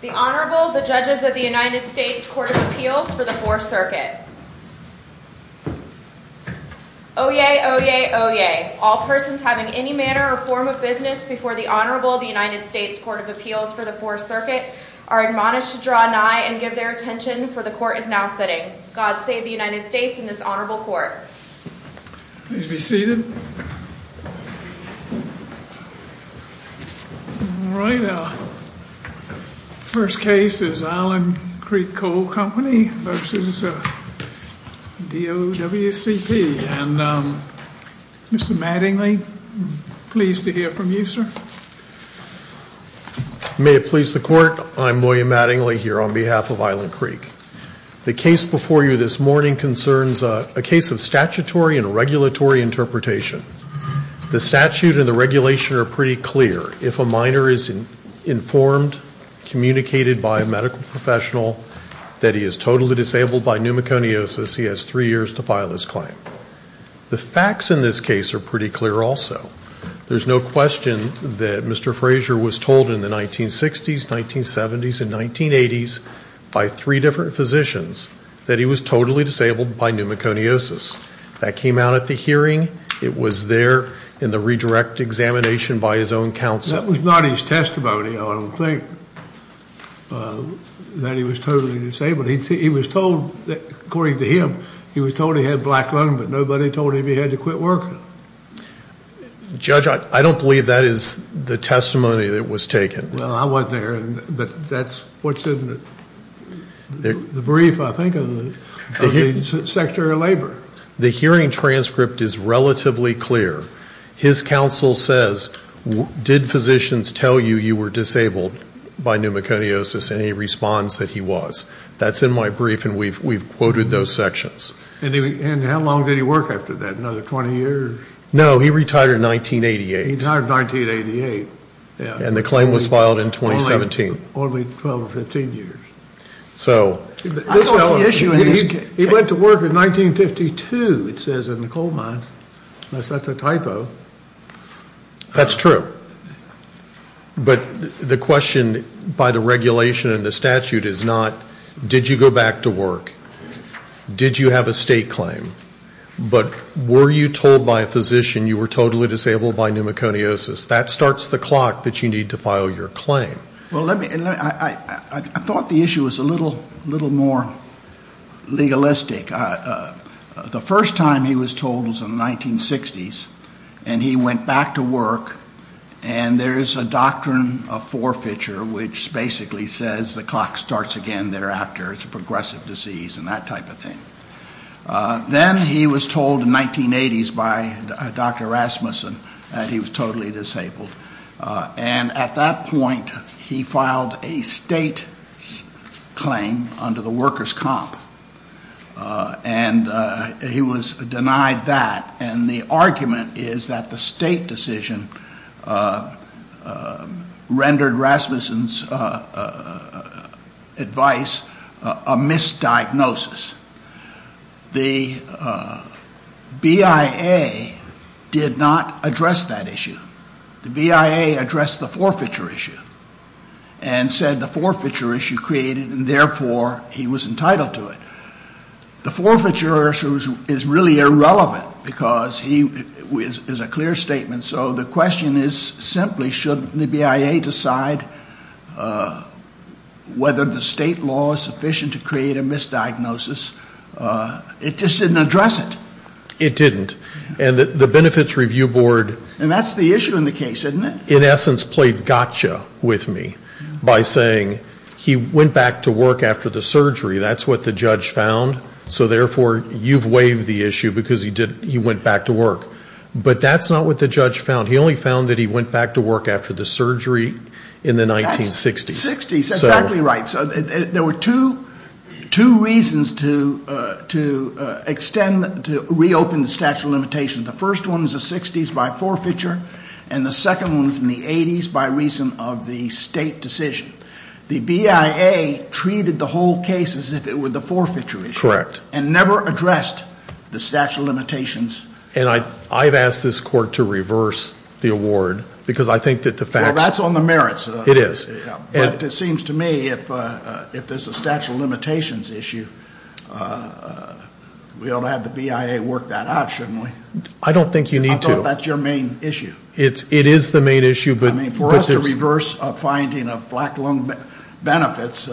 The Honorable, the Judges of the United States Court of Appeals for the Fourth Circuit. Oyez, oyez, oyez. All persons having any manner or form of business before the Honorable of the United States Court of Appeals for the Fourth Circuit are admonished to draw nigh and give their attention, for the Court is now sitting. God save the United States and this Honorable Court. Please be seated. All right. First case is Island Creek Coal Company versus DOWCP. And Mr. Mattingly, pleased to hear from you, sir. May it please the Court. I'm William Mattingly here on behalf of Island Creek. The case before you this morning concerns a case of statutory and regulatory interpretation. The statute and the regulation are pretty clear. If a minor is informed, communicated by a medical professional that he is totally disabled by pneumoconiosis, he has three years to file his claim. The facts in this case are pretty clear also. There's no question that Mr. Frazier was told in the 1960s, 1970s, and 1980s by three different physicians that he was totally disabled by pneumoconiosis. That came out at the hearing. It was there in the redirect examination by his own counsel. That was not his testimony, I don't think, that he was totally disabled. He was told, according to him, he was told he had black lung, but nobody told him he had to quit working. Judge, I don't believe that is the testimony that was taken. Well, I wasn't there, but that's what's in the brief, I think, of the Secretary of Labor. The hearing transcript is relatively clear. His counsel says, did physicians tell you you were disabled by pneumoconiosis? And he responds that he was. That's in my brief, and we've quoted those sections. And how long did he work after that, another 20 years? No, he retired in 1988. He retired in 1988. And the claim was filed in 2017. Only 12 or 15 years. So this fellow, he went to work in 1952, it says in the coal mine, unless that's a typo. That's true. But the question by the regulation and the statute is not, did you go back to work? Did you have a state claim? But were you told by a physician you were totally disabled by pneumoconiosis? That starts the clock that you need to file your claim. I thought the issue was a little more legalistic. The first time he was told was in the 1960s, and he went back to work. And there's a doctrine of forfeiture, which basically says the clock starts again thereafter. It's a progressive disease and that type of thing. Then he was told in the 1980s by Dr. Rasmussen that he was totally disabled. And at that point, he filed a state claim under the workers' comp, and he was denied that. And the argument is that the state decision rendered Rasmussen's advice a misdiagnosis. The BIA did not address that issue. The BIA addressed the forfeiture issue and said the forfeiture issue created it, and therefore he was entitled to it. The forfeiture issue is really irrelevant because he is a clear statement. So the question is simply, should the BIA decide whether the state law is sufficient to create a misdiagnosis? It just didn't address it. It didn't. And the Benefits Review Board in essence played gotcha with me by saying he went back to work after the surgery. That's what the judge found, so therefore you've waived the issue because he went back to work. But that's not what the judge found. He only found that he went back to work after the surgery in the 1960s. In the 1960s, exactly right. So there were two reasons to extend, to reopen the statute of limitations. The first one was the 1960s by forfeiture, and the second one was in the 1980s by reason of the state decision. The BIA treated the whole case as if it were the forfeiture issue. Correct. And never addressed the statute of limitations. And I've asked this court to reverse the award because I think that the facts. Well, that's on the merits. It is. But it seems to me if there's a statute of limitations issue, we ought to have the BIA work that out, shouldn't we? I don't think you need to. I thought that's your main issue. It is the main issue, but there's. I mean, for us to reverse a finding of black lung benefits,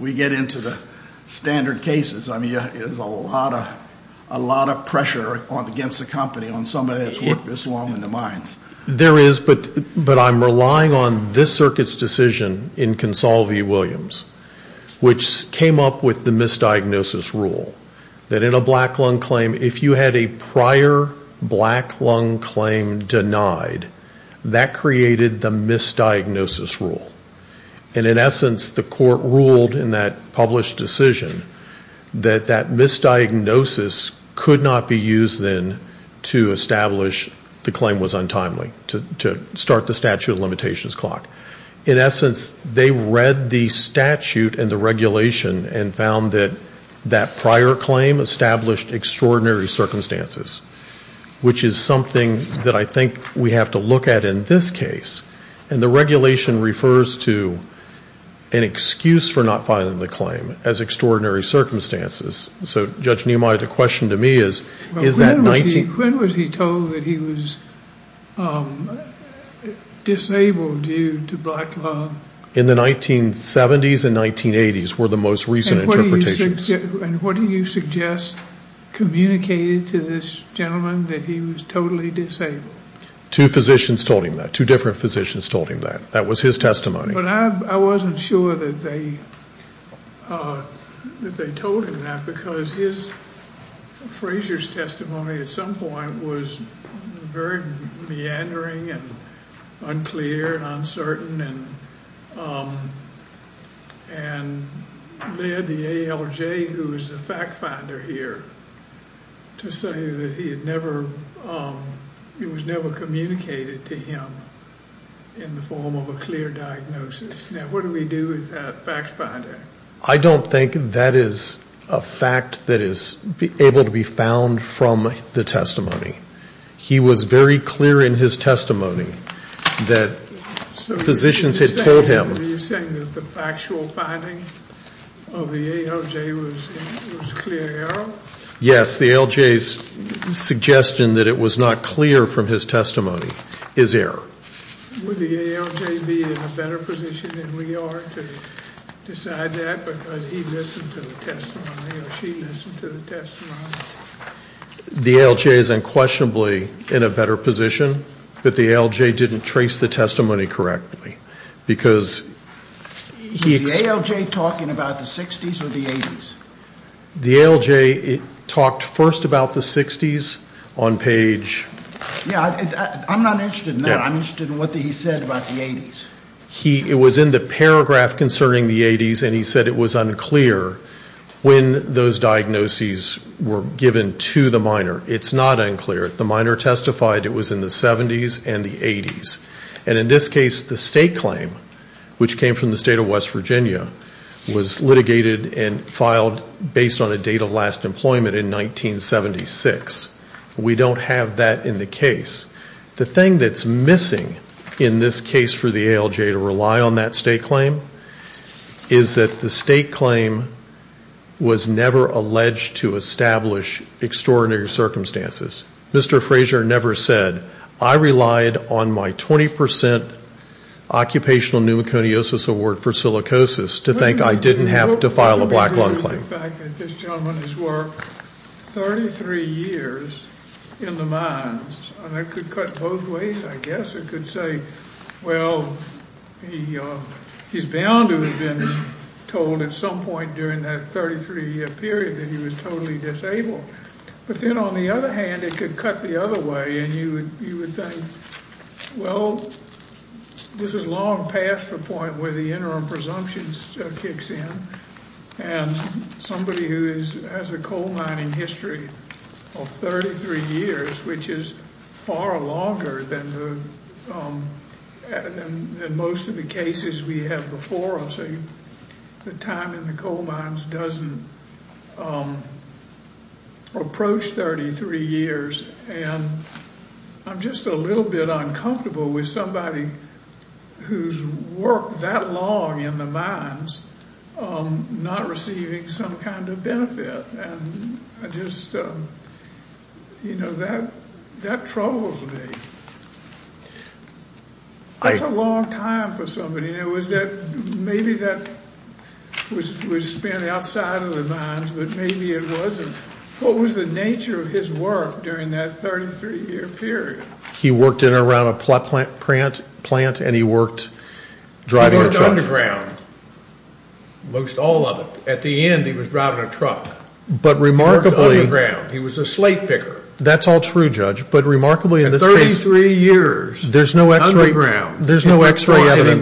we get into the standard cases. I mean, there's a lot of pressure against the company on somebody that's worked this long in the mines. There is, but I'm relying on this circuit's decision in Consolvi-Williams, which came up with the misdiagnosis rule. That in a black lung claim, if you had a prior black lung claim denied, that created the misdiagnosis rule. And in essence, the court ruled in that published decision that that misdiagnosis could not be used then to establish the claim was untimely, to start the statute of limitations clock. In essence, they read the statute and the regulation and found that that prior claim established extraordinary circumstances, which is something that I think we have to look at in this case. And the regulation refers to an excuse for not filing the claim as extraordinary circumstances. So, Judge Neumeier, the question to me is, is that 19- When was he told that he was disabled due to black lung? In the 1970s and 1980s were the most recent interpretations. And what do you suggest communicated to this gentleman that he was totally disabled? Two physicians told him that. Two different physicians told him that. That was his testimony. But I wasn't sure that they told him that, because his, Frazier's testimony at some point was very meandering and unclear and uncertain and led the ALJ, who is the fact finder here, to say that he had never, it was never communicated to him in the form of a clear diagnosis. Now, what do we do with that fact finder? I don't think that is a fact that is able to be found from the testimony. He was very clear in his testimony that physicians had told him- So you're saying that the factual finding of the ALJ was clear error? Yes. The ALJ's suggestion that it was not clear from his testimony is error. Would the ALJ be in a better position than we are to decide that because he listened to the testimony or she listened to the testimony? The ALJ is unquestionably in a better position, but the ALJ didn't trace the testimony correctly, because- Was the ALJ talking about the 60s or the 80s? The ALJ talked first about the 60s on page- Yeah, I'm not interested in that. I'm interested in what he said about the 80s. It was in the paragraph concerning the 80s, and he said it was unclear when those diagnoses were given to the minor. It's not unclear. The minor testified it was in the 70s and the 80s. And in this case, the state claim, which came from the state of West Virginia, was litigated and filed based on a date of last employment in 1976. We don't have that in the case. The thing that's missing in this case for the ALJ to rely on that state claim is that the state claim was never alleged to establish extraordinary circumstances. Mr. Frazier never said, I relied on my 20% occupational pneumoconiosis award for silicosis to think I didn't have to file a black lung claim. The fact that this gentleman has worked 33 years in the mines, and that could cut both ways, I guess. It could say, well, he's bound to have been told at some point during that 33-year period that he was totally disabled. But then on the other hand, it could cut the other way, and you would think, well, this is long past the point where the interim presumptions kicks in. And somebody who has a coal mining history of 33 years, which is far longer than most of the cases we have before us, the time in the coal mines doesn't approach 33 years. And I'm just a little bit uncomfortable with somebody who's worked that long in the mines not receiving some kind of benefit. And I just, you know, that troubles me. That's a long time for somebody. Maybe that was spent outside of the mines, but maybe it wasn't. What was the nature of his work during that 33-year period? He worked in and around a plant, and he worked driving a truck. Most all of it. At the end, he was driving a truck. But remarkably... He was a slate picker. That's all true, Judge. But remarkably in this case... There's no X-ray evidence. And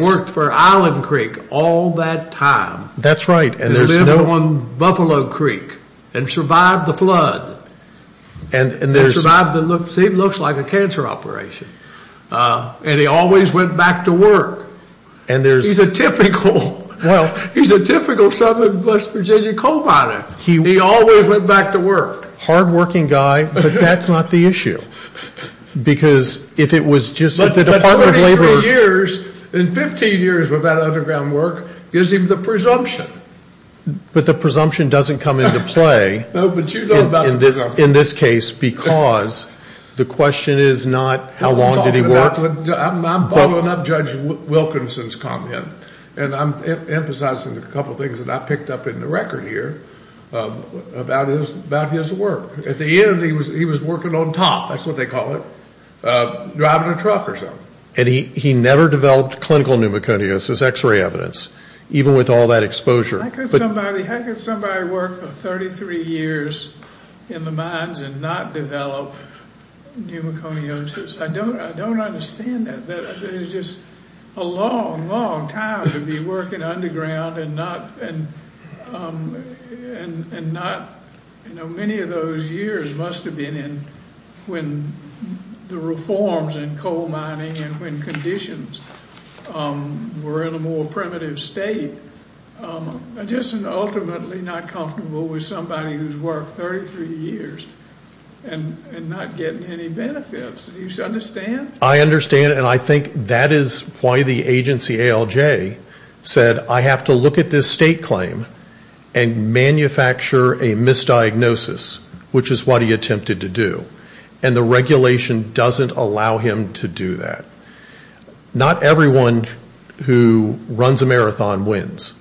he worked for Island Creek all that time. That's right. And lived on Buffalo Creek and survived the flood. And survived what looks like a cancer operation. And he always went back to work. He's a typical Southern West Virginia coal miner. He always went back to work. Hardworking guy, but that's not the issue. Because if it was just that the Department of Labor... But 33 years and 15 years without underground work gives him the presumption. But the presumption doesn't come into play in this case because the question is not how long did he work. I'm following up Judge Wilkinson's comment. And I'm emphasizing a couple of things that I picked up in the record here about his work. At the end, he was working on top. That's what they call it. Driving a truck or something. And he never developed clinical pneumoconiosis X-ray evidence. Even with all that exposure. How could somebody work for 33 years in the mines and not develop pneumoconiosis? I don't understand that. It's just a long, long time to be working underground and not, you know, many of those years must have been when the reforms in coal mining and when conditions were in a more primitive state. I'm just ultimately not comfortable with somebody who's worked 33 years and not getting any benefits. Do you understand? I understand and I think that is why the agency ALJ said I have to look at this state claim and manufacture a misdiagnosis, which is what he attempted to do. And the regulation doesn't allow him to do that. Not everyone who runs a marathon wins.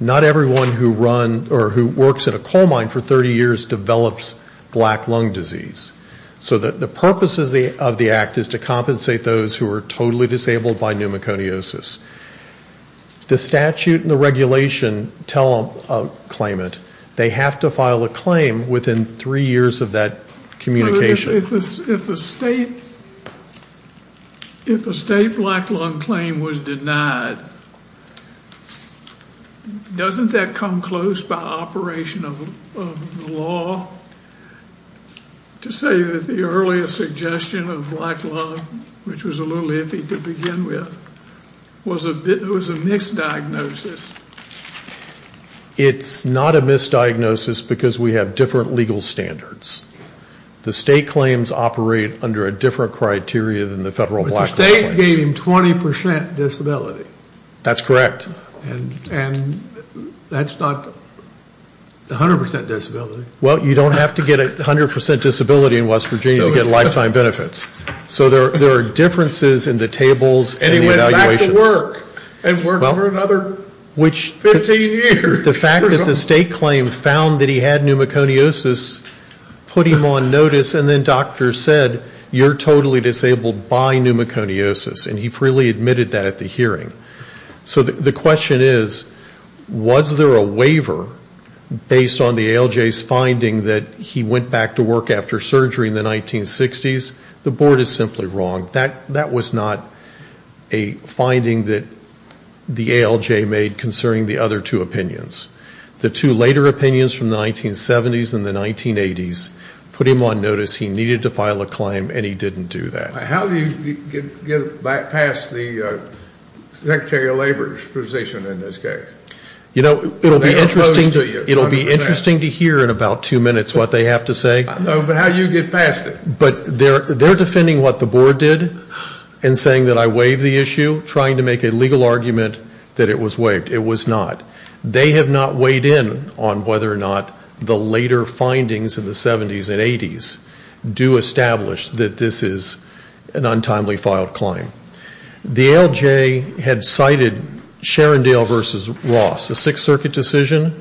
Not everyone who works in a coal mine for 30 years develops black lung disease. So the purpose of the act is to compensate those who are totally disabled by pneumoconiosis. The statute and the regulation tell them to claim it. They have to file a claim within three years of that communication. If the state black lung claim was denied, doesn't that come close by operation of the law to say that the earlier suggestion of black lung, which was a little iffy to begin with, was a misdiagnosis? It's not a misdiagnosis because we have different legal standards. The state claims operate under a different criteria than the federal black lung claims. But the state gave him 20% disability. That's correct. And that's not 100% disability. Well, you don't have to get 100% disability in West Virginia to get lifetime benefits. So there are differences in the tables and the evaluations. And he went back to work and worked for another 15 years. The fact that the state claim found that he had pneumoconiosis put him on notice and then doctors said you're totally disabled by pneumoconiosis. And he freely admitted that at the hearing. So the question is, was there a waiver based on the ALJ's finding that he went back to work after surgery in the 1960s? The board is simply wrong. That was not a finding that the ALJ made concerning the other two opinions. The two later opinions from the 1970s and the 1980s put him on notice. He needed to file a claim, and he didn't do that. How do you get past the Secretary of Labor's position in this case? You know, it will be interesting to hear in about two minutes what they have to say. No, but how do you get past it? But they're defending what the board did in saying that I waived the issue, trying to make a legal argument that it was waived. It was not. They have not weighed in on whether or not the later findings of the 70s and 80s do establish that this is an untimely filed claim. The ALJ had cited Sharondale v. Ross, a Sixth Circuit decision,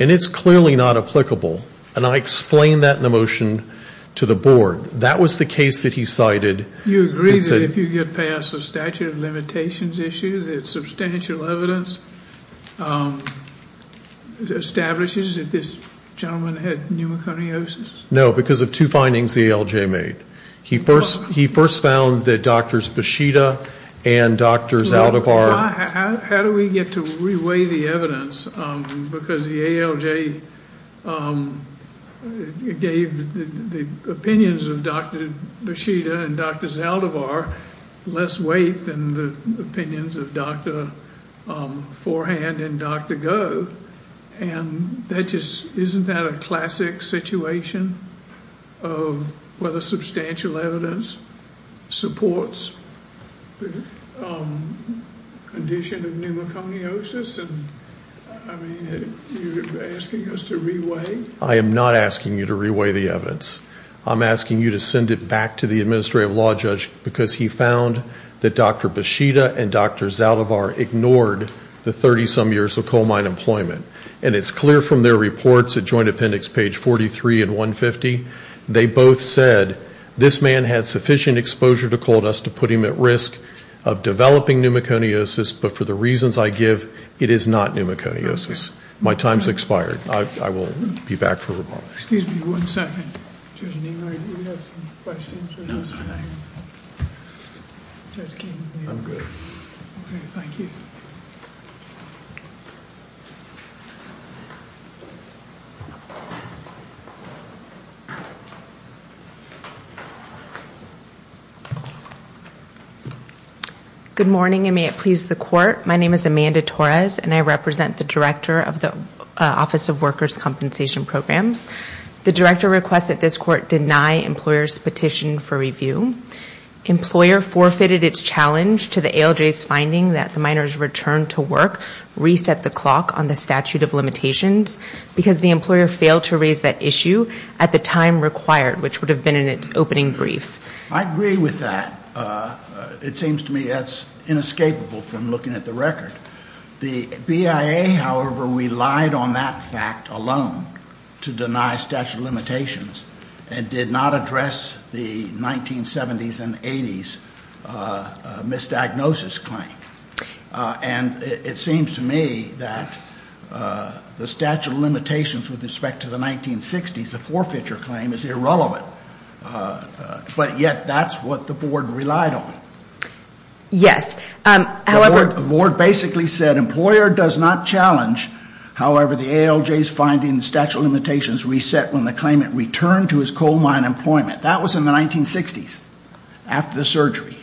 and it's clearly not applicable. And I explained that in the motion to the board. That was the case that he cited. You agree that if you get past the statute of limitations issue, that substantial evidence establishes that this gentleman had pneumoconiosis? No, because of two findings the ALJ made. He first found that Drs. Bishita and Drs. Aldabar. How do we get to re-weigh the evidence? Because the ALJ gave the opinions of Dr. Bishita and Drs. Aldabar less weight than the opinions of Dr. Forehand and Dr. Goh. Isn't that a classic situation of whether substantial evidence supports the condition of pneumoconiosis? I mean, you're asking us to re-weigh? I am not asking you to re-weigh the evidence. I'm asking you to send it back to the administrative law judge because he found that Dr. Bishita and Drs. Aldabar ignored the 30-some years of coal mine employment. And it's clear from their reports at Joint Appendix page 43 and 150. They both said this man had sufficient exposure to cold us to put him at risk of developing pneumoconiosis, but for the reasons I give, it is not pneumoconiosis. My time's expired. I will be back for rebuttal. Excuse me one second. Judge Neumeyer, do you have some questions? No, I'm good. Okay, thank you. Good morning, and may it please the Court. My name is Amanda Torres, and I represent the director of the Office of Workers' Compensation Programs. The director requests that this Court deny employers' petition for review. Employer forfeited its challenge to the ALJ's finding that the miners returned to work, reset the clock on the statute of limitations, because the employer failed to raise that issue at the time required, which would have been in its opening brief. I agree with that. It seems to me that's inescapable from looking at the record. The BIA, however, relied on that fact alone to deny statute of limitations and did not address the 1970s and 80s misdiagnosis claim. And it seems to me that the statute of limitations with respect to the 1960s, the forfeiture claim, is irrelevant. But yet that's what the Board relied on. Yes. The Board basically said employer does not challenge, however, the ALJ's finding the statute of limitations reset when the claimant returned to his coal mine employment. That was in the 1960s, after the surgery.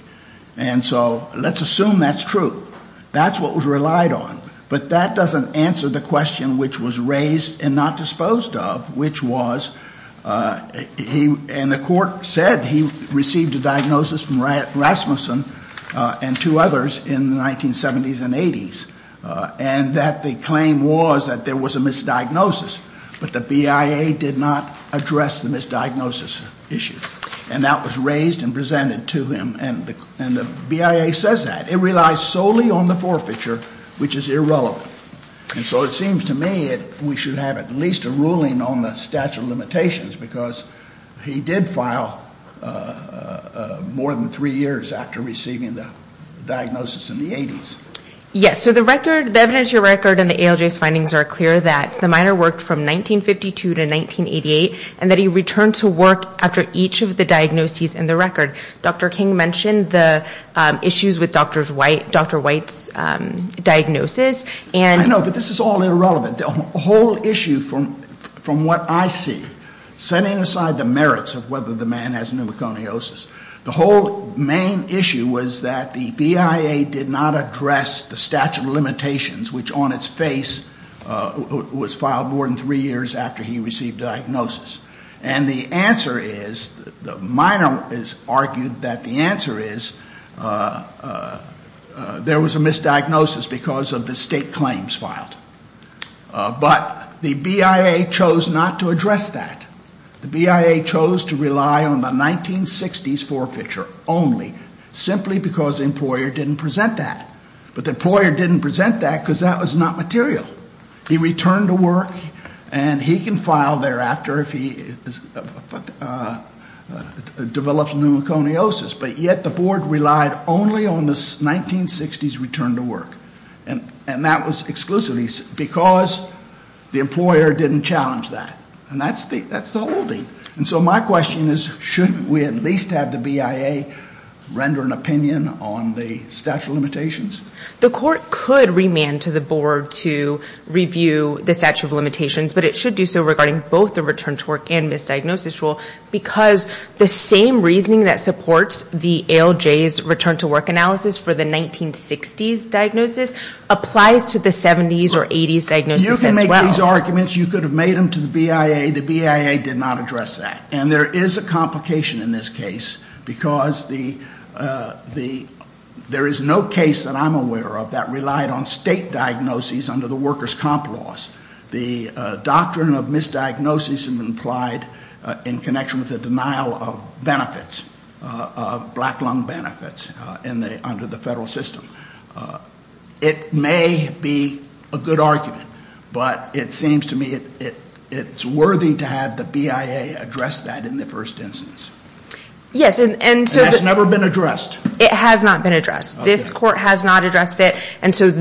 And so let's assume that's true. That's what was relied on. But that doesn't answer the question which was raised and not disposed of, which was, and the court said he received a diagnosis from Rasmussen and two others in the 1970s and 80s, and that the claim was that there was a misdiagnosis. But the BIA did not address the misdiagnosis issue. And that was raised and presented to him, and the BIA says that. It relies solely on the forfeiture, which is irrelevant. And so it seems to me that we should have at least a ruling on the statute of limitations because he did file more than three years after receiving the diagnosis in the 80s. Yes. So the record, the evidence of your record and the ALJ's findings are clear that the miner worked from 1952 to 1988 and that he returned to work after each of the diagnoses in the record. Dr. King mentioned the issues with Dr. White's diagnosis. I know, but this is all irrelevant. The whole issue from what I see, setting aside the merits of whether the man has pneumoconiosis, the whole main issue was that the BIA did not address the statute of limitations, which on its face was filed more than three years after he received diagnosis. And the answer is, the miner has argued that the answer is there was a misdiagnosis because of the state claims filed. But the BIA chose not to address that. The BIA chose to rely on the 1960s forfeiture only, simply because the employer didn't present that. But the employer didn't present that because that was not material. He returned to work and he can file thereafter if he develops pneumoconiosis. But yet the board relied only on the 1960s return to work. And that was exclusively because the employer didn't challenge that. And that's the oldie. And so my question is, should we at least have the BIA render an opinion on the statute of limitations? The court could remand to the board to review the statute of limitations, but it should do so regarding both the return to work and misdiagnosis rule, because the same reasoning that supports the ALJ's return to work analysis for the 1960s diagnosis applies to the 70s or 80s diagnosis as well. You can make these arguments. You could have made them to the BIA. The BIA did not address that. And there is a complication in this case, because there is no case that I'm aware of that relied on state diagnoses under the workers' comp laws. The doctrine of misdiagnosis implied in connection with the denial of benefits, of black lung benefits under the federal system. It may be a good argument, but it seems to me it's worthy to have the BIA address that in the first instance. And that's never been addressed. It has not been addressed. This court has not addressed it. And so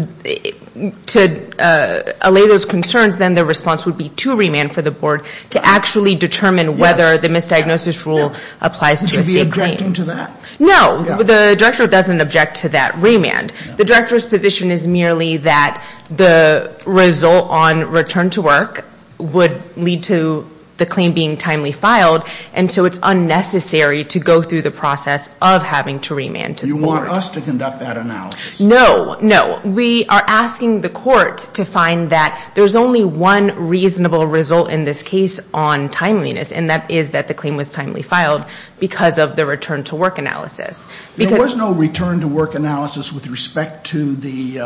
to allay those concerns, then the response would be to remand for the board to actually determine whether the misdiagnosis rule applies to a state claim. Is he objecting to that? No, the director doesn't object to that remand. The director's position is merely that the result on return to work would lead to the claim being timely filed, and so it's unnecessary to go through the process of having to remand to the board. You want us to conduct that analysis? No, no. But we are asking the court to find that there's only one reasonable result in this case on timeliness, and that is that the claim was timely filed because of the return to work analysis. There was no return to work analysis with respect to the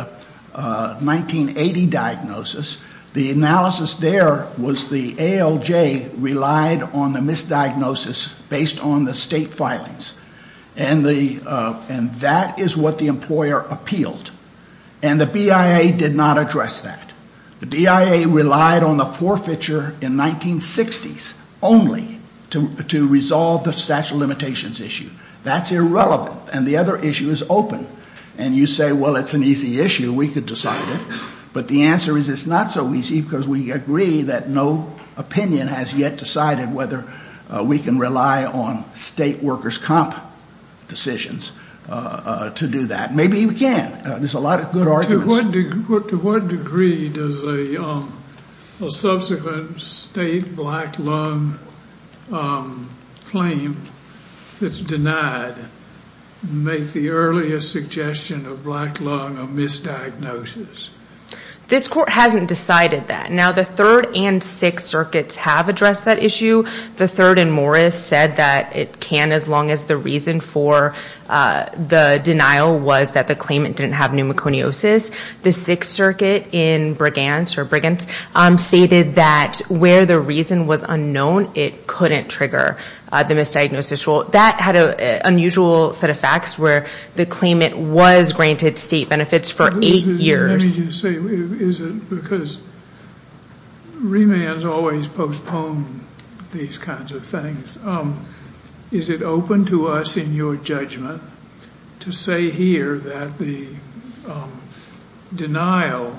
1980 diagnosis. The analysis there was the ALJ relied on the misdiagnosis based on the state filings. And that is what the employer appealed. And the BIA did not address that. The BIA relied on the forfeiture in 1960s only to resolve the statute of limitations issue. That's irrelevant. And the other issue is open. And you say, well, it's an easy issue. We could decide it. But the answer is it's not so easy because we agree that no opinion has yet decided whether we can rely on state workers' comp decisions to do that. Maybe we can. There's a lot of good arguments. To what degree does a subsequent state black lung claim that's denied make the earlier suggestion of black lung a misdiagnosis? This court hasn't decided that. Now, the Third and Sixth Circuits have addressed that issue. The Third and Morris said that it can as long as the reason for the denial was that the claimant didn't have pneumoconiosis. The Sixth Circuit in Brigance stated that where the reason was unknown, it couldn't trigger the misdiagnosis rule. That had an unusual set of facts where the claimant was granted state benefits for eight years. Let me just say, because remands always postpone these kinds of things, is it open to us in your judgment to say here that the denial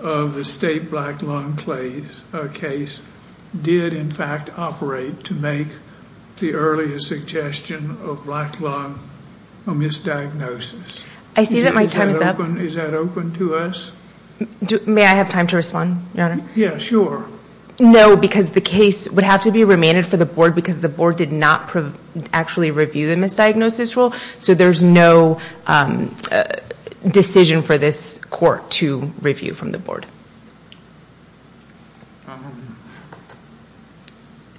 of the state black lung case did, in fact, operate to make the earlier suggestion of black lung a misdiagnosis? I see that my time is up. Is that open to us? May I have time to respond, Your Honor? Yeah, sure. No, because the case would have to be remanded for the board because the board did not actually review the misdiagnosis rule. So there's no decision for this court to review from the board.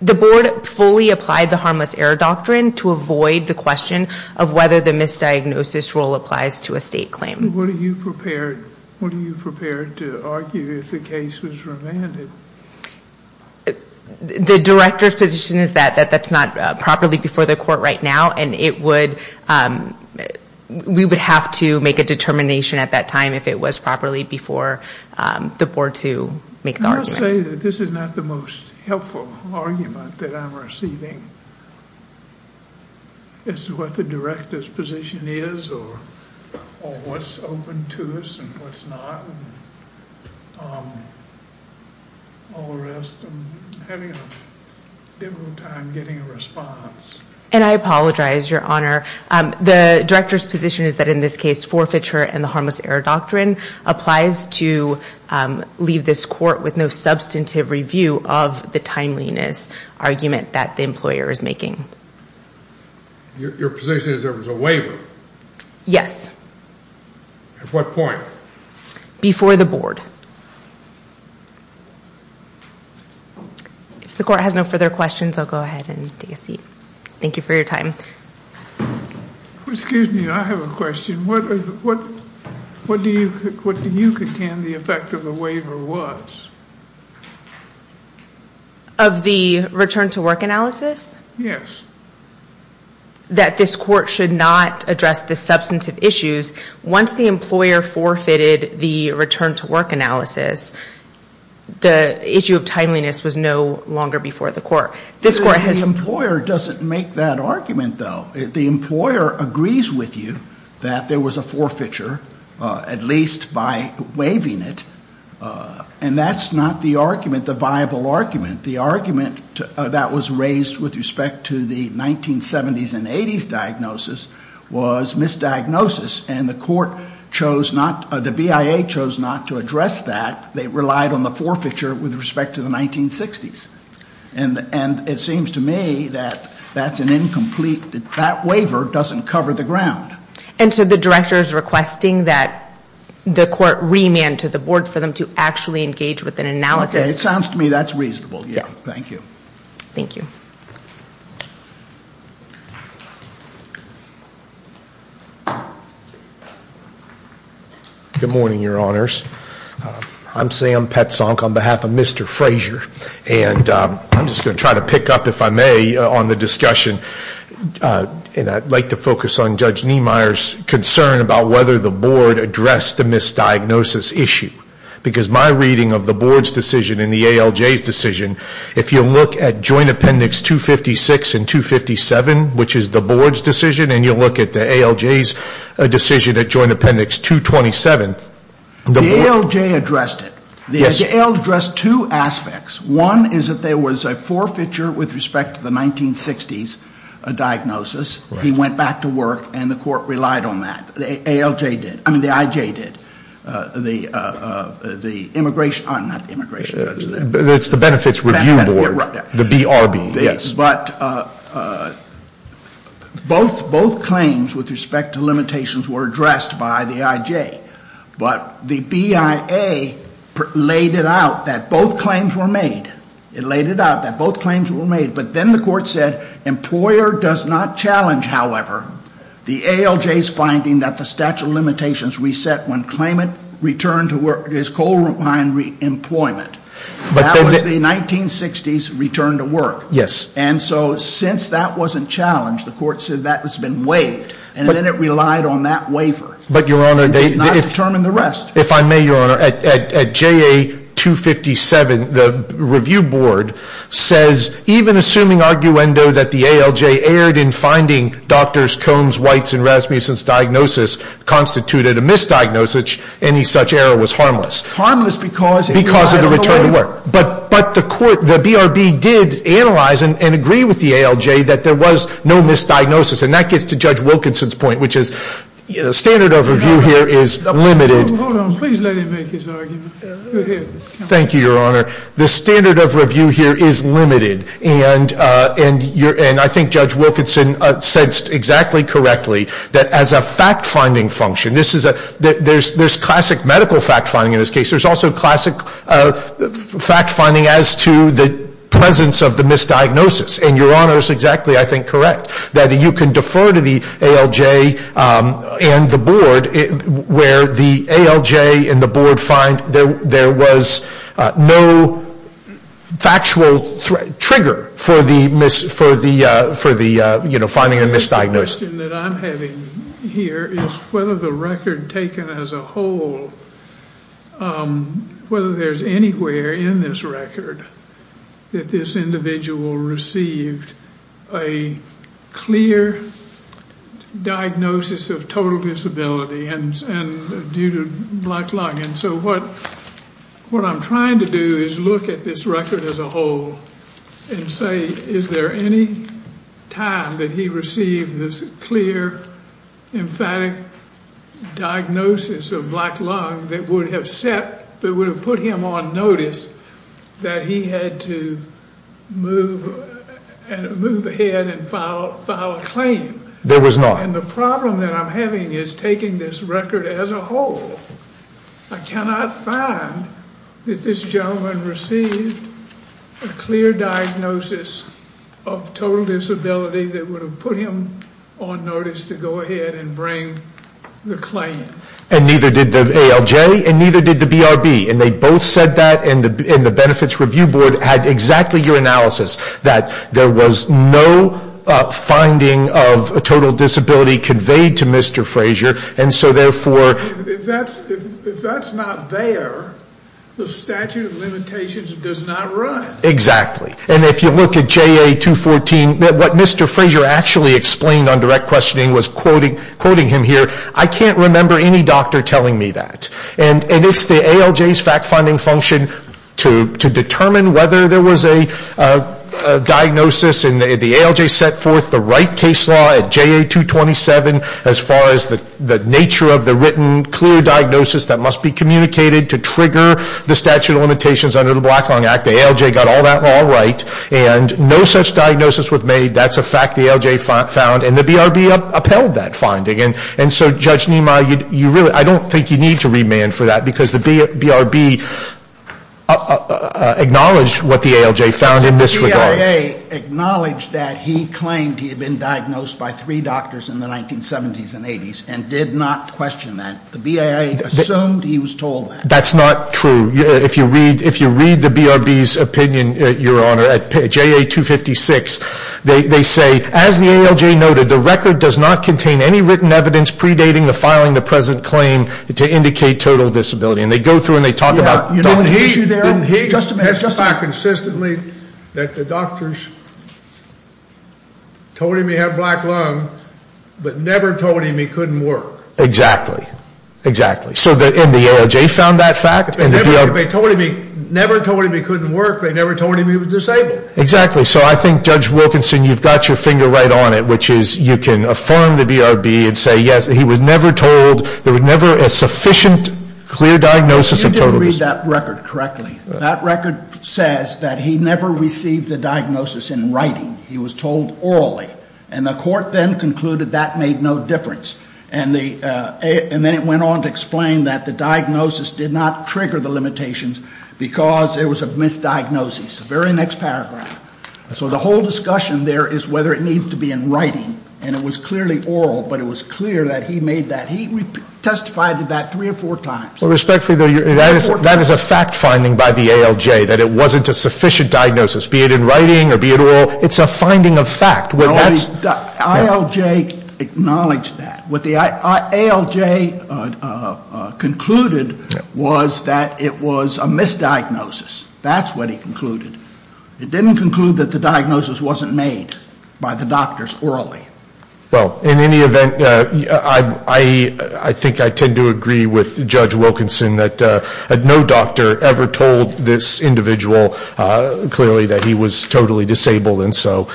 The board fully applied the harmless error doctrine to avoid the question of whether the misdiagnosis rule applies to a state claim. What are you prepared to argue if the case was remanded? The director's position is that that's not properly before the court right now, and we would have to make a determination at that time if it was properly before the board to make the argument. I would say that this is not the most helpful argument that I'm receiving as to what the director's position is or what's open to us and what's not and all the rest. I'm having a difficult time getting a response. And I apologize, Your Honor. The director's position is that in this case forfeiture and the harmless error doctrine applies to leave this court with no substantive review of the timeliness argument that the employer is making. Your position is there was a waiver? Yes. At what point? Before the board. If the court has no further questions, I'll go ahead and take a seat. Thank you for your time. Excuse me, I have a question. What do you contend the effect of the waiver was? Of the return to work analysis? Yes. That this court should not address the substantive issues. Once the employer forfeited the return to work analysis, the issue of timeliness was no longer before the court. The employer doesn't make that argument, though. The employer agrees with you that there was a forfeiture, at least by waiving it. And that's not the argument, the viable argument. The argument that was raised with respect to the 1970s and 80s diagnosis was misdiagnosis. And the court chose not, the BIA chose not to address that. They relied on the forfeiture with respect to the 1960s. And it seems to me that that's an incomplete, that waiver doesn't cover the ground. And so the director is requesting that the court remand to the board for them to actually engage with an analysis. It sounds to me that's reasonable. Yes. Thank you. Thank you. Good morning, Your Honors. I'm Sam Petzonk on behalf of Mr. Frazier. And I'm just going to try to pick up, if I may, on the discussion. And I'd like to focus on Judge Niemeyer's concern about whether the board addressed the misdiagnosis issue. Because my reading of the board's decision and the ALJ's decision, if you look at Joint Appendix 256 and 257, which is the board's decision, and you look at the ALJ's decision at Joint Appendix 227. The ALJ addressed it. Yes. The ALJ addressed two aspects. One is that there was a forfeiture with respect to the 1960s diagnosis. He went back to work, and the court relied on that. The ALJ did. I mean, the IJ did. The Immigration, not the Immigration. It's the Benefits Review Board. The BRB. Yes. But both claims with respect to limitations were addressed by the IJ. But the BIA laid it out that both claims were made. It laid it out that both claims were made. But then the court said, employer does not challenge, however, the ALJ's finding that the statute of limitations reset when claimant returned to his coal mine employment. That was the 1960s return to work. Yes. And so since that wasn't challenged, the court said that has been waived, and then it relied on that waiver. But, Your Honor, they did not determine the rest. If I may, Your Honor, at JA 257, the review board says, even assuming arguendo that the ALJ erred in finding doctors Combs, Weitz, and Rasmussen's diagnosis constituted a misdiagnosis, any such error was harmless. Harmless because it relied on the waiver. Because of the return to work. But the BRB did analyze and agree with the ALJ that there was no misdiagnosis. And that gets to Judge Wilkinson's point, which is standard overview here is limited. Hold on. Please let him make his argument. Go ahead. Thank you, Your Honor. The standard of review here is limited. And I think Judge Wilkinson said exactly correctly that as a fact-finding function, there's classic medical fact-finding in this case. There's also classic fact-finding as to the presence of the misdiagnosis. And Your Honor is exactly, I think, correct. That you can defer to the ALJ and the board where the ALJ and the board find there was no factual trigger for the finding of misdiagnosis. The question that I'm having here is whether the record taken as a whole, whether there's anywhere in this record that this individual received a clear diagnosis of total disability due to black lung. That would have set, that would have put him on notice that he had to move ahead and file a claim. There was not. And the problem that I'm having is taking this record as a whole. I cannot find that this gentleman received a clear diagnosis of total disability that would have put him on notice to go ahead and bring the claim. And neither did the ALJ and neither did the BRB. And they both said that. And the Benefits Review Board had exactly your analysis that there was no finding of total disability conveyed to Mr. Frazier. And so therefore... If that's not there, the statute of limitations does not run. Exactly. And if you look at JA 214, what Mr. Frazier actually explained on direct questioning was, quoting him here, I can't remember any doctor telling me that. And it's the ALJ's fact-finding function to determine whether there was a diagnosis. And the ALJ set forth the right case law at JA 227 as far as the nature of the written clear diagnosis that must be communicated to trigger the statute of limitations under the Black Lung Act. The ALJ got all that law right. And no such diagnosis was made. That's a fact the ALJ found. And the BRB upheld that finding. And so, Judge Nima, I don't think you need to remand for that because the BRB acknowledged what the ALJ found in this regard. The BIA acknowledged that he claimed he had been diagnosed by three doctors in the 1970s and 80s and did not question that. The BIA assumed he was told that. That's not true. If you read the BRB's opinion, Your Honor, at JA 256, they say, As the ALJ noted, the record does not contain any written evidence predating the filing of the present claim to indicate total disability. And they go through and they talk about. Didn't he testify consistently that the doctors told him he had black lung but never told him he couldn't work? Exactly. Exactly. And the ALJ found that fact. They never told him he couldn't work. They never told him he was disabled. Exactly. So I think, Judge Wilkinson, you've got your finger right on it, which is you can affirm the BRB and say, Yes, he was never told. There was never a sufficient, clear diagnosis of total disability. You didn't read that record correctly. That record says that he never received the diagnosis in writing. He was told orally. And the court then concluded that made no difference. And then it went on to explain that the diagnosis did not trigger the limitations because there was a misdiagnosis. The very next paragraph. So the whole discussion there is whether it needs to be in writing. And it was clearly oral, but it was clear that he made that. He testified to that three or four times. Respectfully, though, that is a fact finding by the ALJ, that it wasn't a sufficient diagnosis, be it in writing or be it oral. It's a finding of fact. ALJ acknowledged that. What the ALJ concluded was that it was a misdiagnosis. That's what he concluded. It didn't conclude that the diagnosis wasn't made by the doctors orally. Well, in any event, I think I tend to agree with Judge Wilkinson that no doctor ever told this individual clearly that he was totally disabled. And so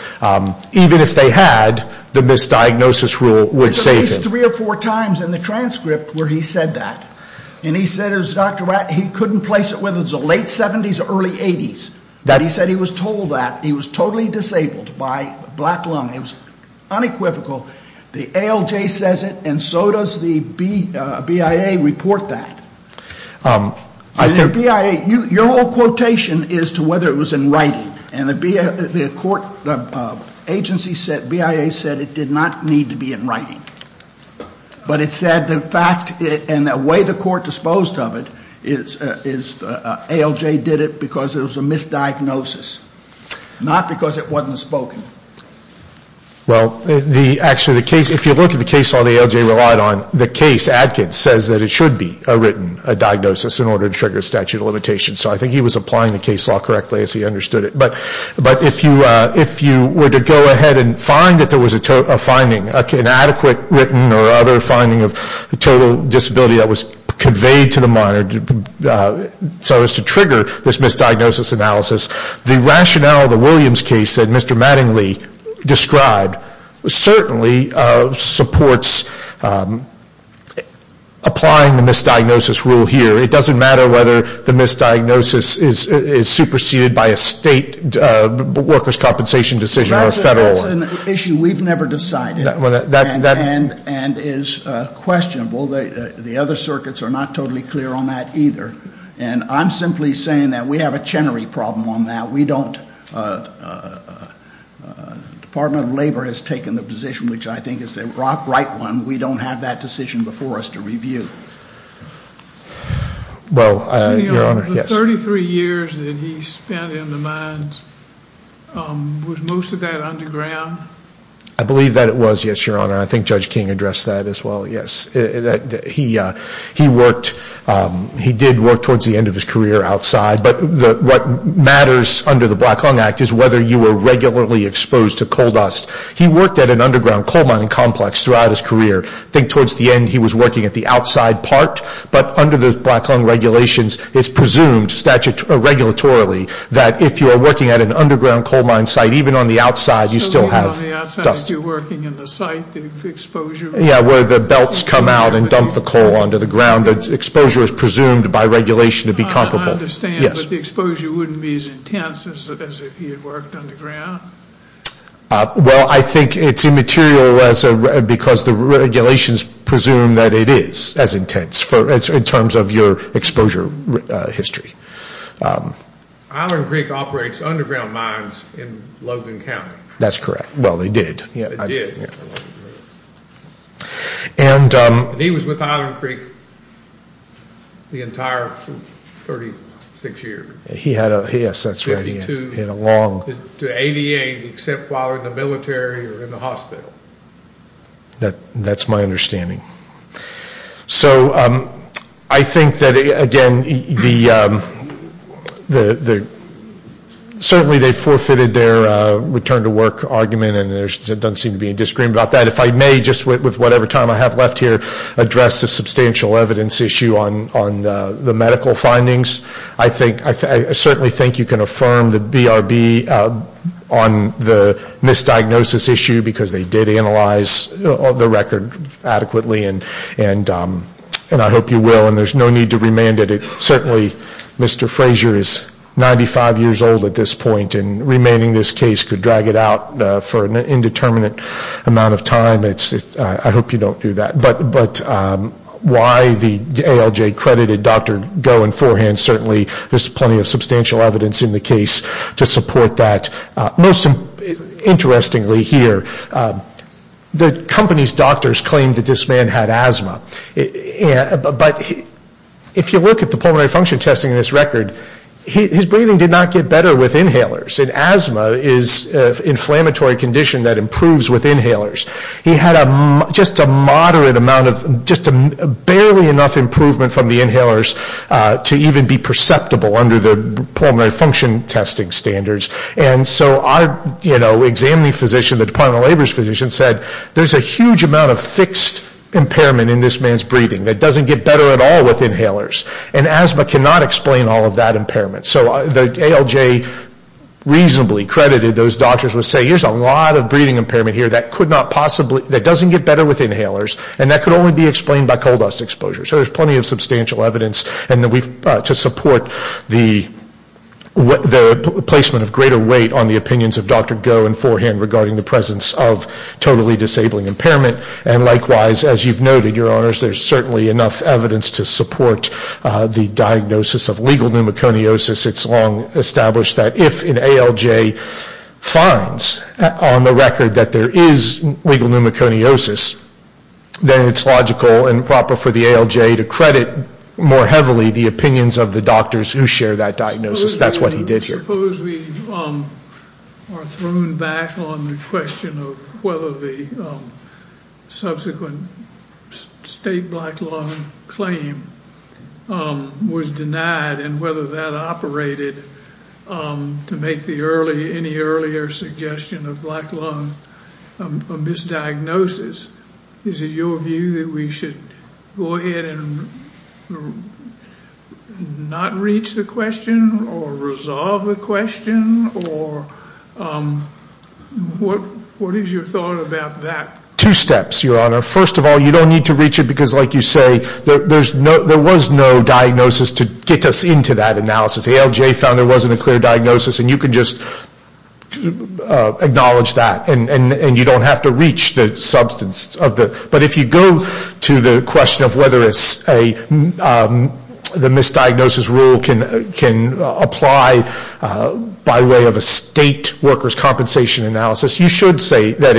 even if they had, the misdiagnosis rule would save him. There's at least three or four times in the transcript where he said that. And he said it was Dr. Watt. He couldn't place it whether it was the late 70s or early 80s. He said he was told that. He was totally disabled by black lung. It was unequivocal. The ALJ says it, and so does the BIA report that. Your whole quotation is to whether it was in writing. And the BIA said it did not need to be in writing. But it said the fact and the way the court disposed of it is ALJ did it because it was a misdiagnosis, not because it wasn't spoken. Well, actually, if you look at the case law the ALJ relied on, the case, Adkins, says that it should be a written diagnosis in order to trigger statute of limitations. So I think he was applying the case law correctly as he understood it. But if you were to go ahead and find that there was a finding, an adequate written or other finding of total disability that was conveyed to the minor so as to trigger this misdiagnosis analysis, the rationale of the Williams case that Mr. Mattingly described certainly supports applying the misdiagnosis rule here. It doesn't matter whether the misdiagnosis is superseded by a state workers' compensation decision or a federal one. That's an issue we've never decided and is questionable. The other circuits are not totally clear on that either. And I'm simply saying that we have a Chenery problem on that. We don't. The Department of Labor has taken the position which I think is a right one. We don't have that decision before us to review. Well, Your Honor, yes. The 33 years that he spent in the mines, was most of that underground? I believe that it was, yes, Your Honor. I think Judge King addressed that as well, yes. He did work towards the end of his career outside. But what matters under the Black Lung Act is whether you were regularly exposed to coal dust. He worked at an underground coal mining complex throughout his career. I think towards the end he was working at the outside part. But under the Black Lung regulations, it's presumed statutorily that if you are working at an underground coal mine site, even on the outside, you still have dust. You're working in the site, the exposure? Yeah, where the belts come out and dump the coal onto the ground. The exposure is presumed by regulation to be comparable. I understand, but the exposure wouldn't be as intense as if he had worked underground? Well, I think it's immaterial because the regulations presume that it is as intense in terms of your exposure history. Island Creek operates underground mines in Logan County. That's correct. Well, they did. They did. And he was with Island Creek the entire 36 years. Yes, that's right. To 88, except while in the military or in the hospital. That's my understanding. So I think that, again, certainly they forfeited their return to work argument, and there doesn't seem to be a disagreement about that. If I may, just with whatever time I have left here, address the substantial evidence issue on the medical findings, I certainly think you can affirm the BRB on the misdiagnosis issue because they did analyze the record adequately, and I hope you will. And there's no need to remand it. Certainly, Mr. Frazier is 95 years old at this point, and remanding this case could drag it out for an indeterminate amount of time. I hope you don't do that. But why the ALJ credited Dr. Goh in forehand, certainly there's plenty of substantial evidence in the case to support that. Most interestingly here, the company's doctors claimed that this man had asthma. But if you look at the pulmonary function testing in this record, his breathing did not get better with inhalers, and asthma is an inflammatory condition that improves with inhalers. He had just a barely enough improvement from the inhalers to even be perceptible under the pulmonary function testing standards. And so our examining physician, the Department of Labor's physician, said there's a huge amount of fixed impairment in this man's breathing that doesn't get better at all with inhalers, and asthma cannot explain all of that impairment. So the ALJ reasonably credited those doctors with saying, here's a lot of breathing impairment here that doesn't get better with inhalers, and that could only be explained by coal dust exposure. So there's plenty of substantial evidence to support the placement of greater weight on the opinions of Dr. Goh in forehand regarding the presence of totally disabling impairment. And likewise, as you've noted, your honors, there's certainly enough evidence to support the diagnosis of legal pneumoconiosis. It's long established that if an ALJ finds on the record that there is legal pneumoconiosis, then it's logical and proper for the ALJ to credit more heavily the opinions of the doctors who share that diagnosis. That's what he did here. Suppose we are thrown back on the question of whether the subsequent state black lung claim was denied and whether that operated to make any earlier suggestion of black lung misdiagnosis. Is it your view that we should go ahead and not reach the question or resolve the question? Or what is your thought about that? Two steps, your honor. First of all, you don't need to reach it because, like you say, there was no diagnosis to get us into that analysis. The ALJ found there wasn't a clear diagnosis and you can just acknowledge that and you don't have to reach the substance. But if you go to the question of whether the misdiagnosis rule can apply by way of a state workers' compensation analysis, you should allow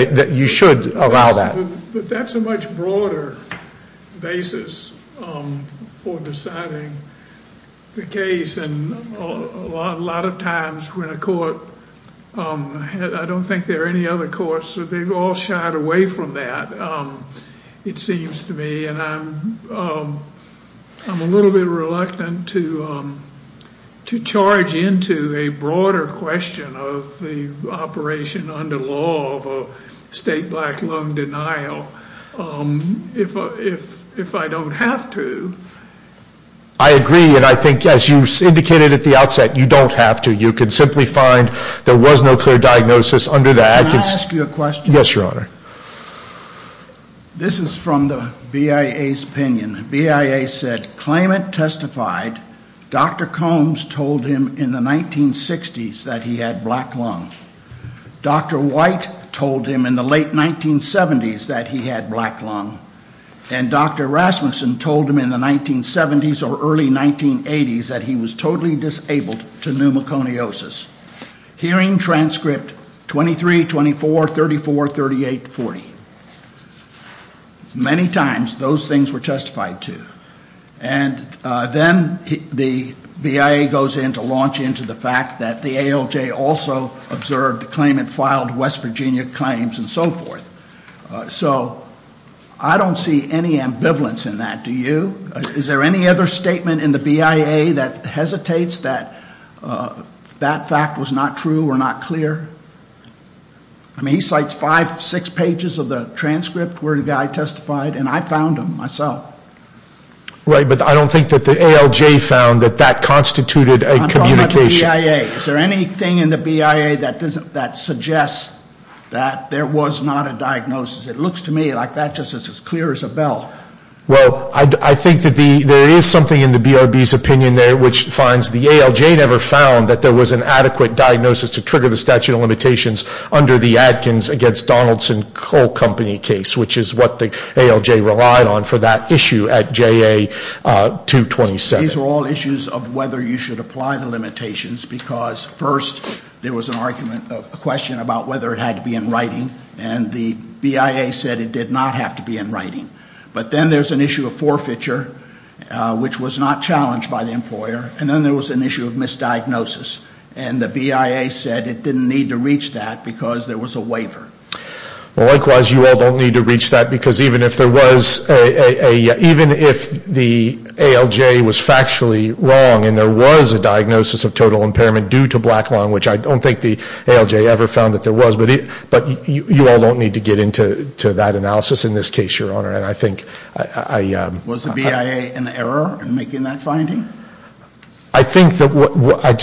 that. But that's a much broader basis for deciding the case. And a lot of times when a court, I don't think there are any other courts, they've all shied away from that it seems to me. And I'm a little bit reluctant to charge into a broader question of the operation under law of a state black lung denial if I don't have to. I agree. And I think as you indicated at the outset, you don't have to. You can simply find there was no clear diagnosis under that. Can I ask you a question? Yes, your honor. This is from the BIA's opinion. BIA said claimant testified, Dr. Combs told him in the 1960s that he had black lung. Dr. White told him in the late 1970s that he had black lung. And Dr. Rasmussen told him in the 1970s or early 1980s that he was totally disabled to pneumoconiosis. Hearing transcript 23, 24, 34, 38, 40. Many times those things were testified to. And then the BIA goes in to launch into the fact that the ALJ also observed the claimant filed West Virginia claims and so forth. So I don't see any ambivalence in that, do you? Is there any other statement in the BIA that hesitates that that fact was not true or not clear? I mean, he cites five, six pages of the transcript where the guy testified, and I found them myself. Right, but I don't think that the ALJ found that that constituted a communication. I'm talking about the BIA. Is there anything in the BIA that suggests that there was not a diagnosis? It looks to me like that's just as clear as a bell. Well, I think that there is something in the BRB's opinion there which finds the ALJ never found that there was an adequate diagnosis to trigger the statute of limitations under the Adkins against Donaldson Coal Company case, which is what the ALJ relied on for that issue at JA 227. These are all issues of whether you should apply the limitations because, first, there was an argument, a question about whether it had to be in writing, and the BIA said it did not have to be in writing. But then there's an issue of forfeiture, which was not challenged by the employer, and then there was an issue of misdiagnosis, and the BIA said it didn't need to reach that because there was a waiver. Well, likewise, you all don't need to reach that because even if there was a, even if the ALJ was factually wrong and there was a diagnosis of total impairment due to black line, which I don't think the ALJ ever found that there was, but you all don't need to get into that analysis in this case, Your Honor, and I think I. Was the BIA in error in making that finding? I think that I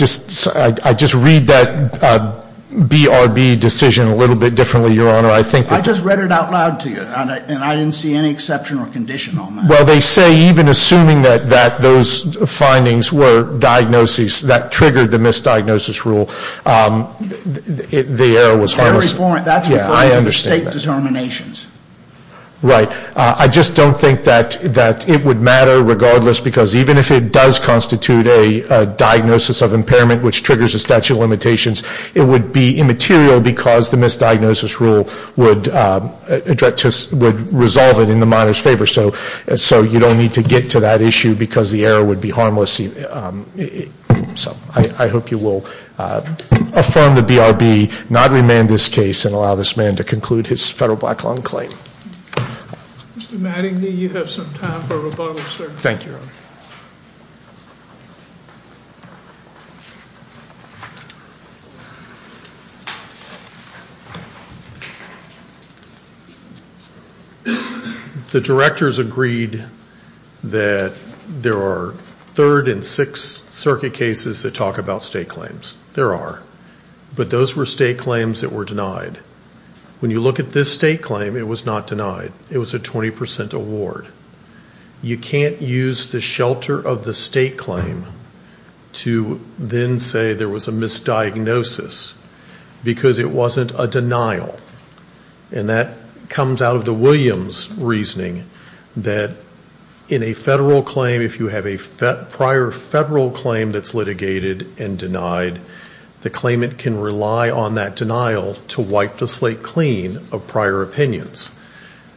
just read that BRB decision a little bit differently, Your Honor. I just read it out loud to you, and I didn't see any exception or condition on that. Well, they say even assuming that those findings were diagnoses that triggered the misdiagnosis rule, the error was harmless. That's referring to the state determinations. Right. I just don't think that it would matter regardless because even if it does constitute a diagnosis of impairment which triggers a statute of limitations, it would be immaterial because the misdiagnosis rule would resolve it in the minor's favor. So you don't need to get to that issue because the error would be harmless. So I hope you will affirm the BRB, not remand this case, and allow this man to conclude his federal black line claim. Mr. Mattingly, you have some time for rebuttal, sir. Thank you, Your Honor. The directors agreed that there are third and sixth circuit cases that talk about state claims. There are. But those were state claims that were denied. When you look at this state claim, it was not denied. It was a 20% award. You can't use the shelter of the state claim to justify a state claim. And then say there was a misdiagnosis because it wasn't a denial. And that comes out of the Williams reasoning that in a federal claim, if you have a prior federal claim that's litigated and denied, the claimant can rely on that denial to wipe the slate clean of prior opinions.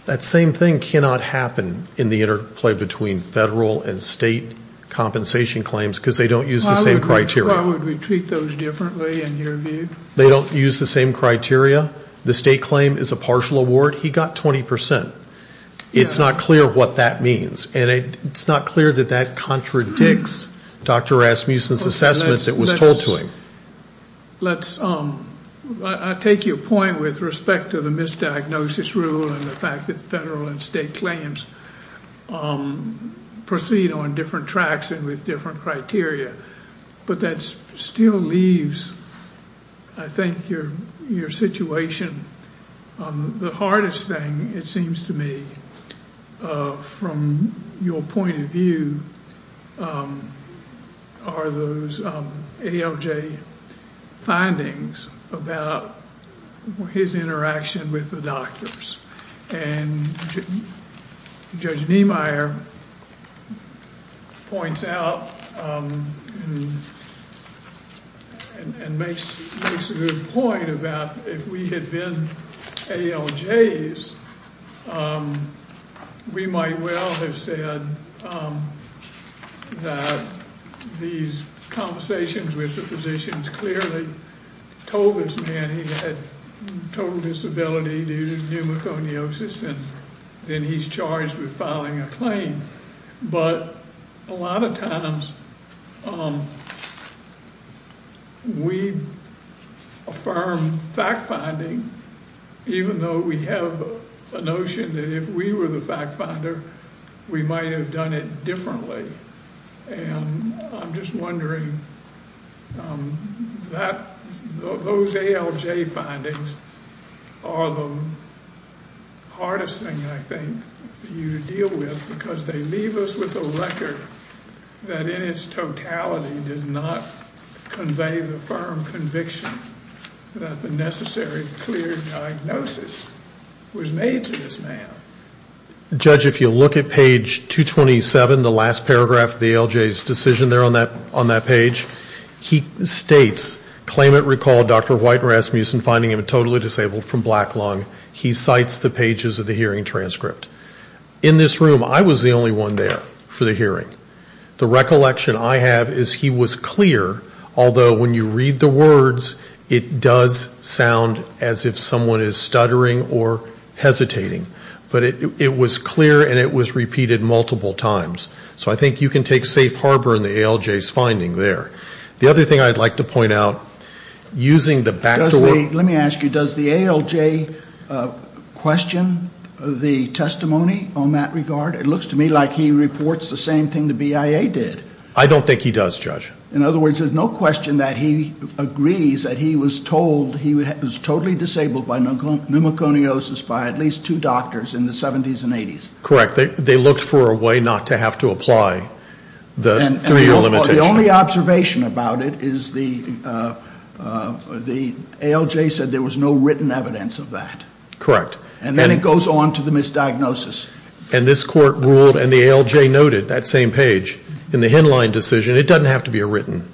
That same thing cannot happen in the interplay between federal and state compensation claims because they don't use the same criteria. Why would we treat those differently in your view? They don't use the same criteria. The state claim is a partial award. He got 20%. It's not clear what that means. And it's not clear that that contradicts Dr. Rasmussen's assessment that was told to him. I take your point with respect to the misdiagnosis rule and the fact that federal and state claims proceed on different tracks and with different criteria. But that still leaves, I think, your situation. The hardest thing, it seems to me, from your point of view, are those ALJ findings about his interaction with the doctors. And Judge Niemeyer points out and makes a good point about if we had been ALJs, we might well have said that these conversations with the physicians clearly told this man he had total disability due to pneumoconiosis and then he's charged with filing a claim. But a lot of times we affirm fact-finding even though we have a notion that if we were the fact-finder, we might have done it differently. And I'm just wondering, those ALJ findings are the hardest thing, I think, for you to deal with because they leave us with a record that in its totality does not convey the firm conviction that the necessary clear diagnosis was made to this man. Judge, if you look at page 227, the last paragraph of the ALJ's decision there on that page, he states, claimant recalled Dr. White and Rasmussen finding him totally disabled from black lung. He cites the pages of the hearing transcript. In this room, I was the only one there for the hearing. The recollection I have is he was clear, although when you read the words, it does sound as if someone is stuttering or hesitating. But it was clear and it was repeated multiple times. So I think you can take safe harbor in the ALJ's finding there. The other thing I'd like to point out, using the back door. Let me ask you, does the ALJ question the testimony on that regard? It looks to me like he reports the same thing the BIA did. I don't think he does, Judge. In other words, there's no question that he agrees that he was told he was totally disabled by pneumoconiosis by at least two doctors in the 70s and 80s. Correct. They looked for a way not to have to apply the three-year limitation. The only observation about it is the ALJ said there was no written evidence of that. Correct. And then it goes on to the misdiagnosis. And this court ruled and the ALJ noted that same page in the Henline decision. It doesn't have to be a written.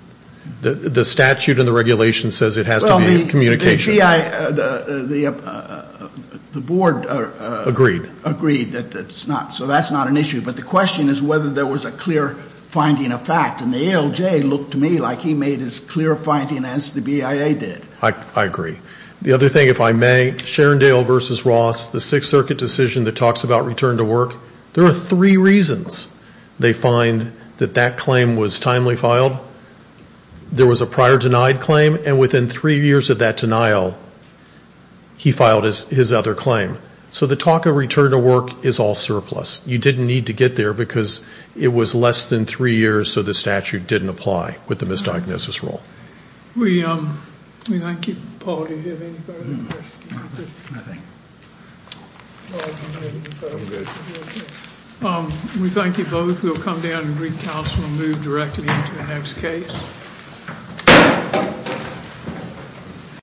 The statute and the regulation says it has to be a communication. Well, the BIA, the board agreed. Agreed. So that's not an issue. But the question is whether there was a clear finding of fact. And the ALJ looked to me like he made as clear a finding as the BIA did. I agree. The other thing, if I may, Sharondale v. Ross, the Sixth Circuit decision that talks about return to work, there are three reasons they find that that claim was timely filed. There was a prior denied claim. And within three years of that denial, he filed his other claim. So the talk of return to work is all surplus. You didn't need to get there because it was less than three years, so the statute didn't apply with the misdiagnosis rule. We thank you. Paul, do you have any further questions? Nothing. We thank you both. We'll come down and reconcile and move directly into the next case.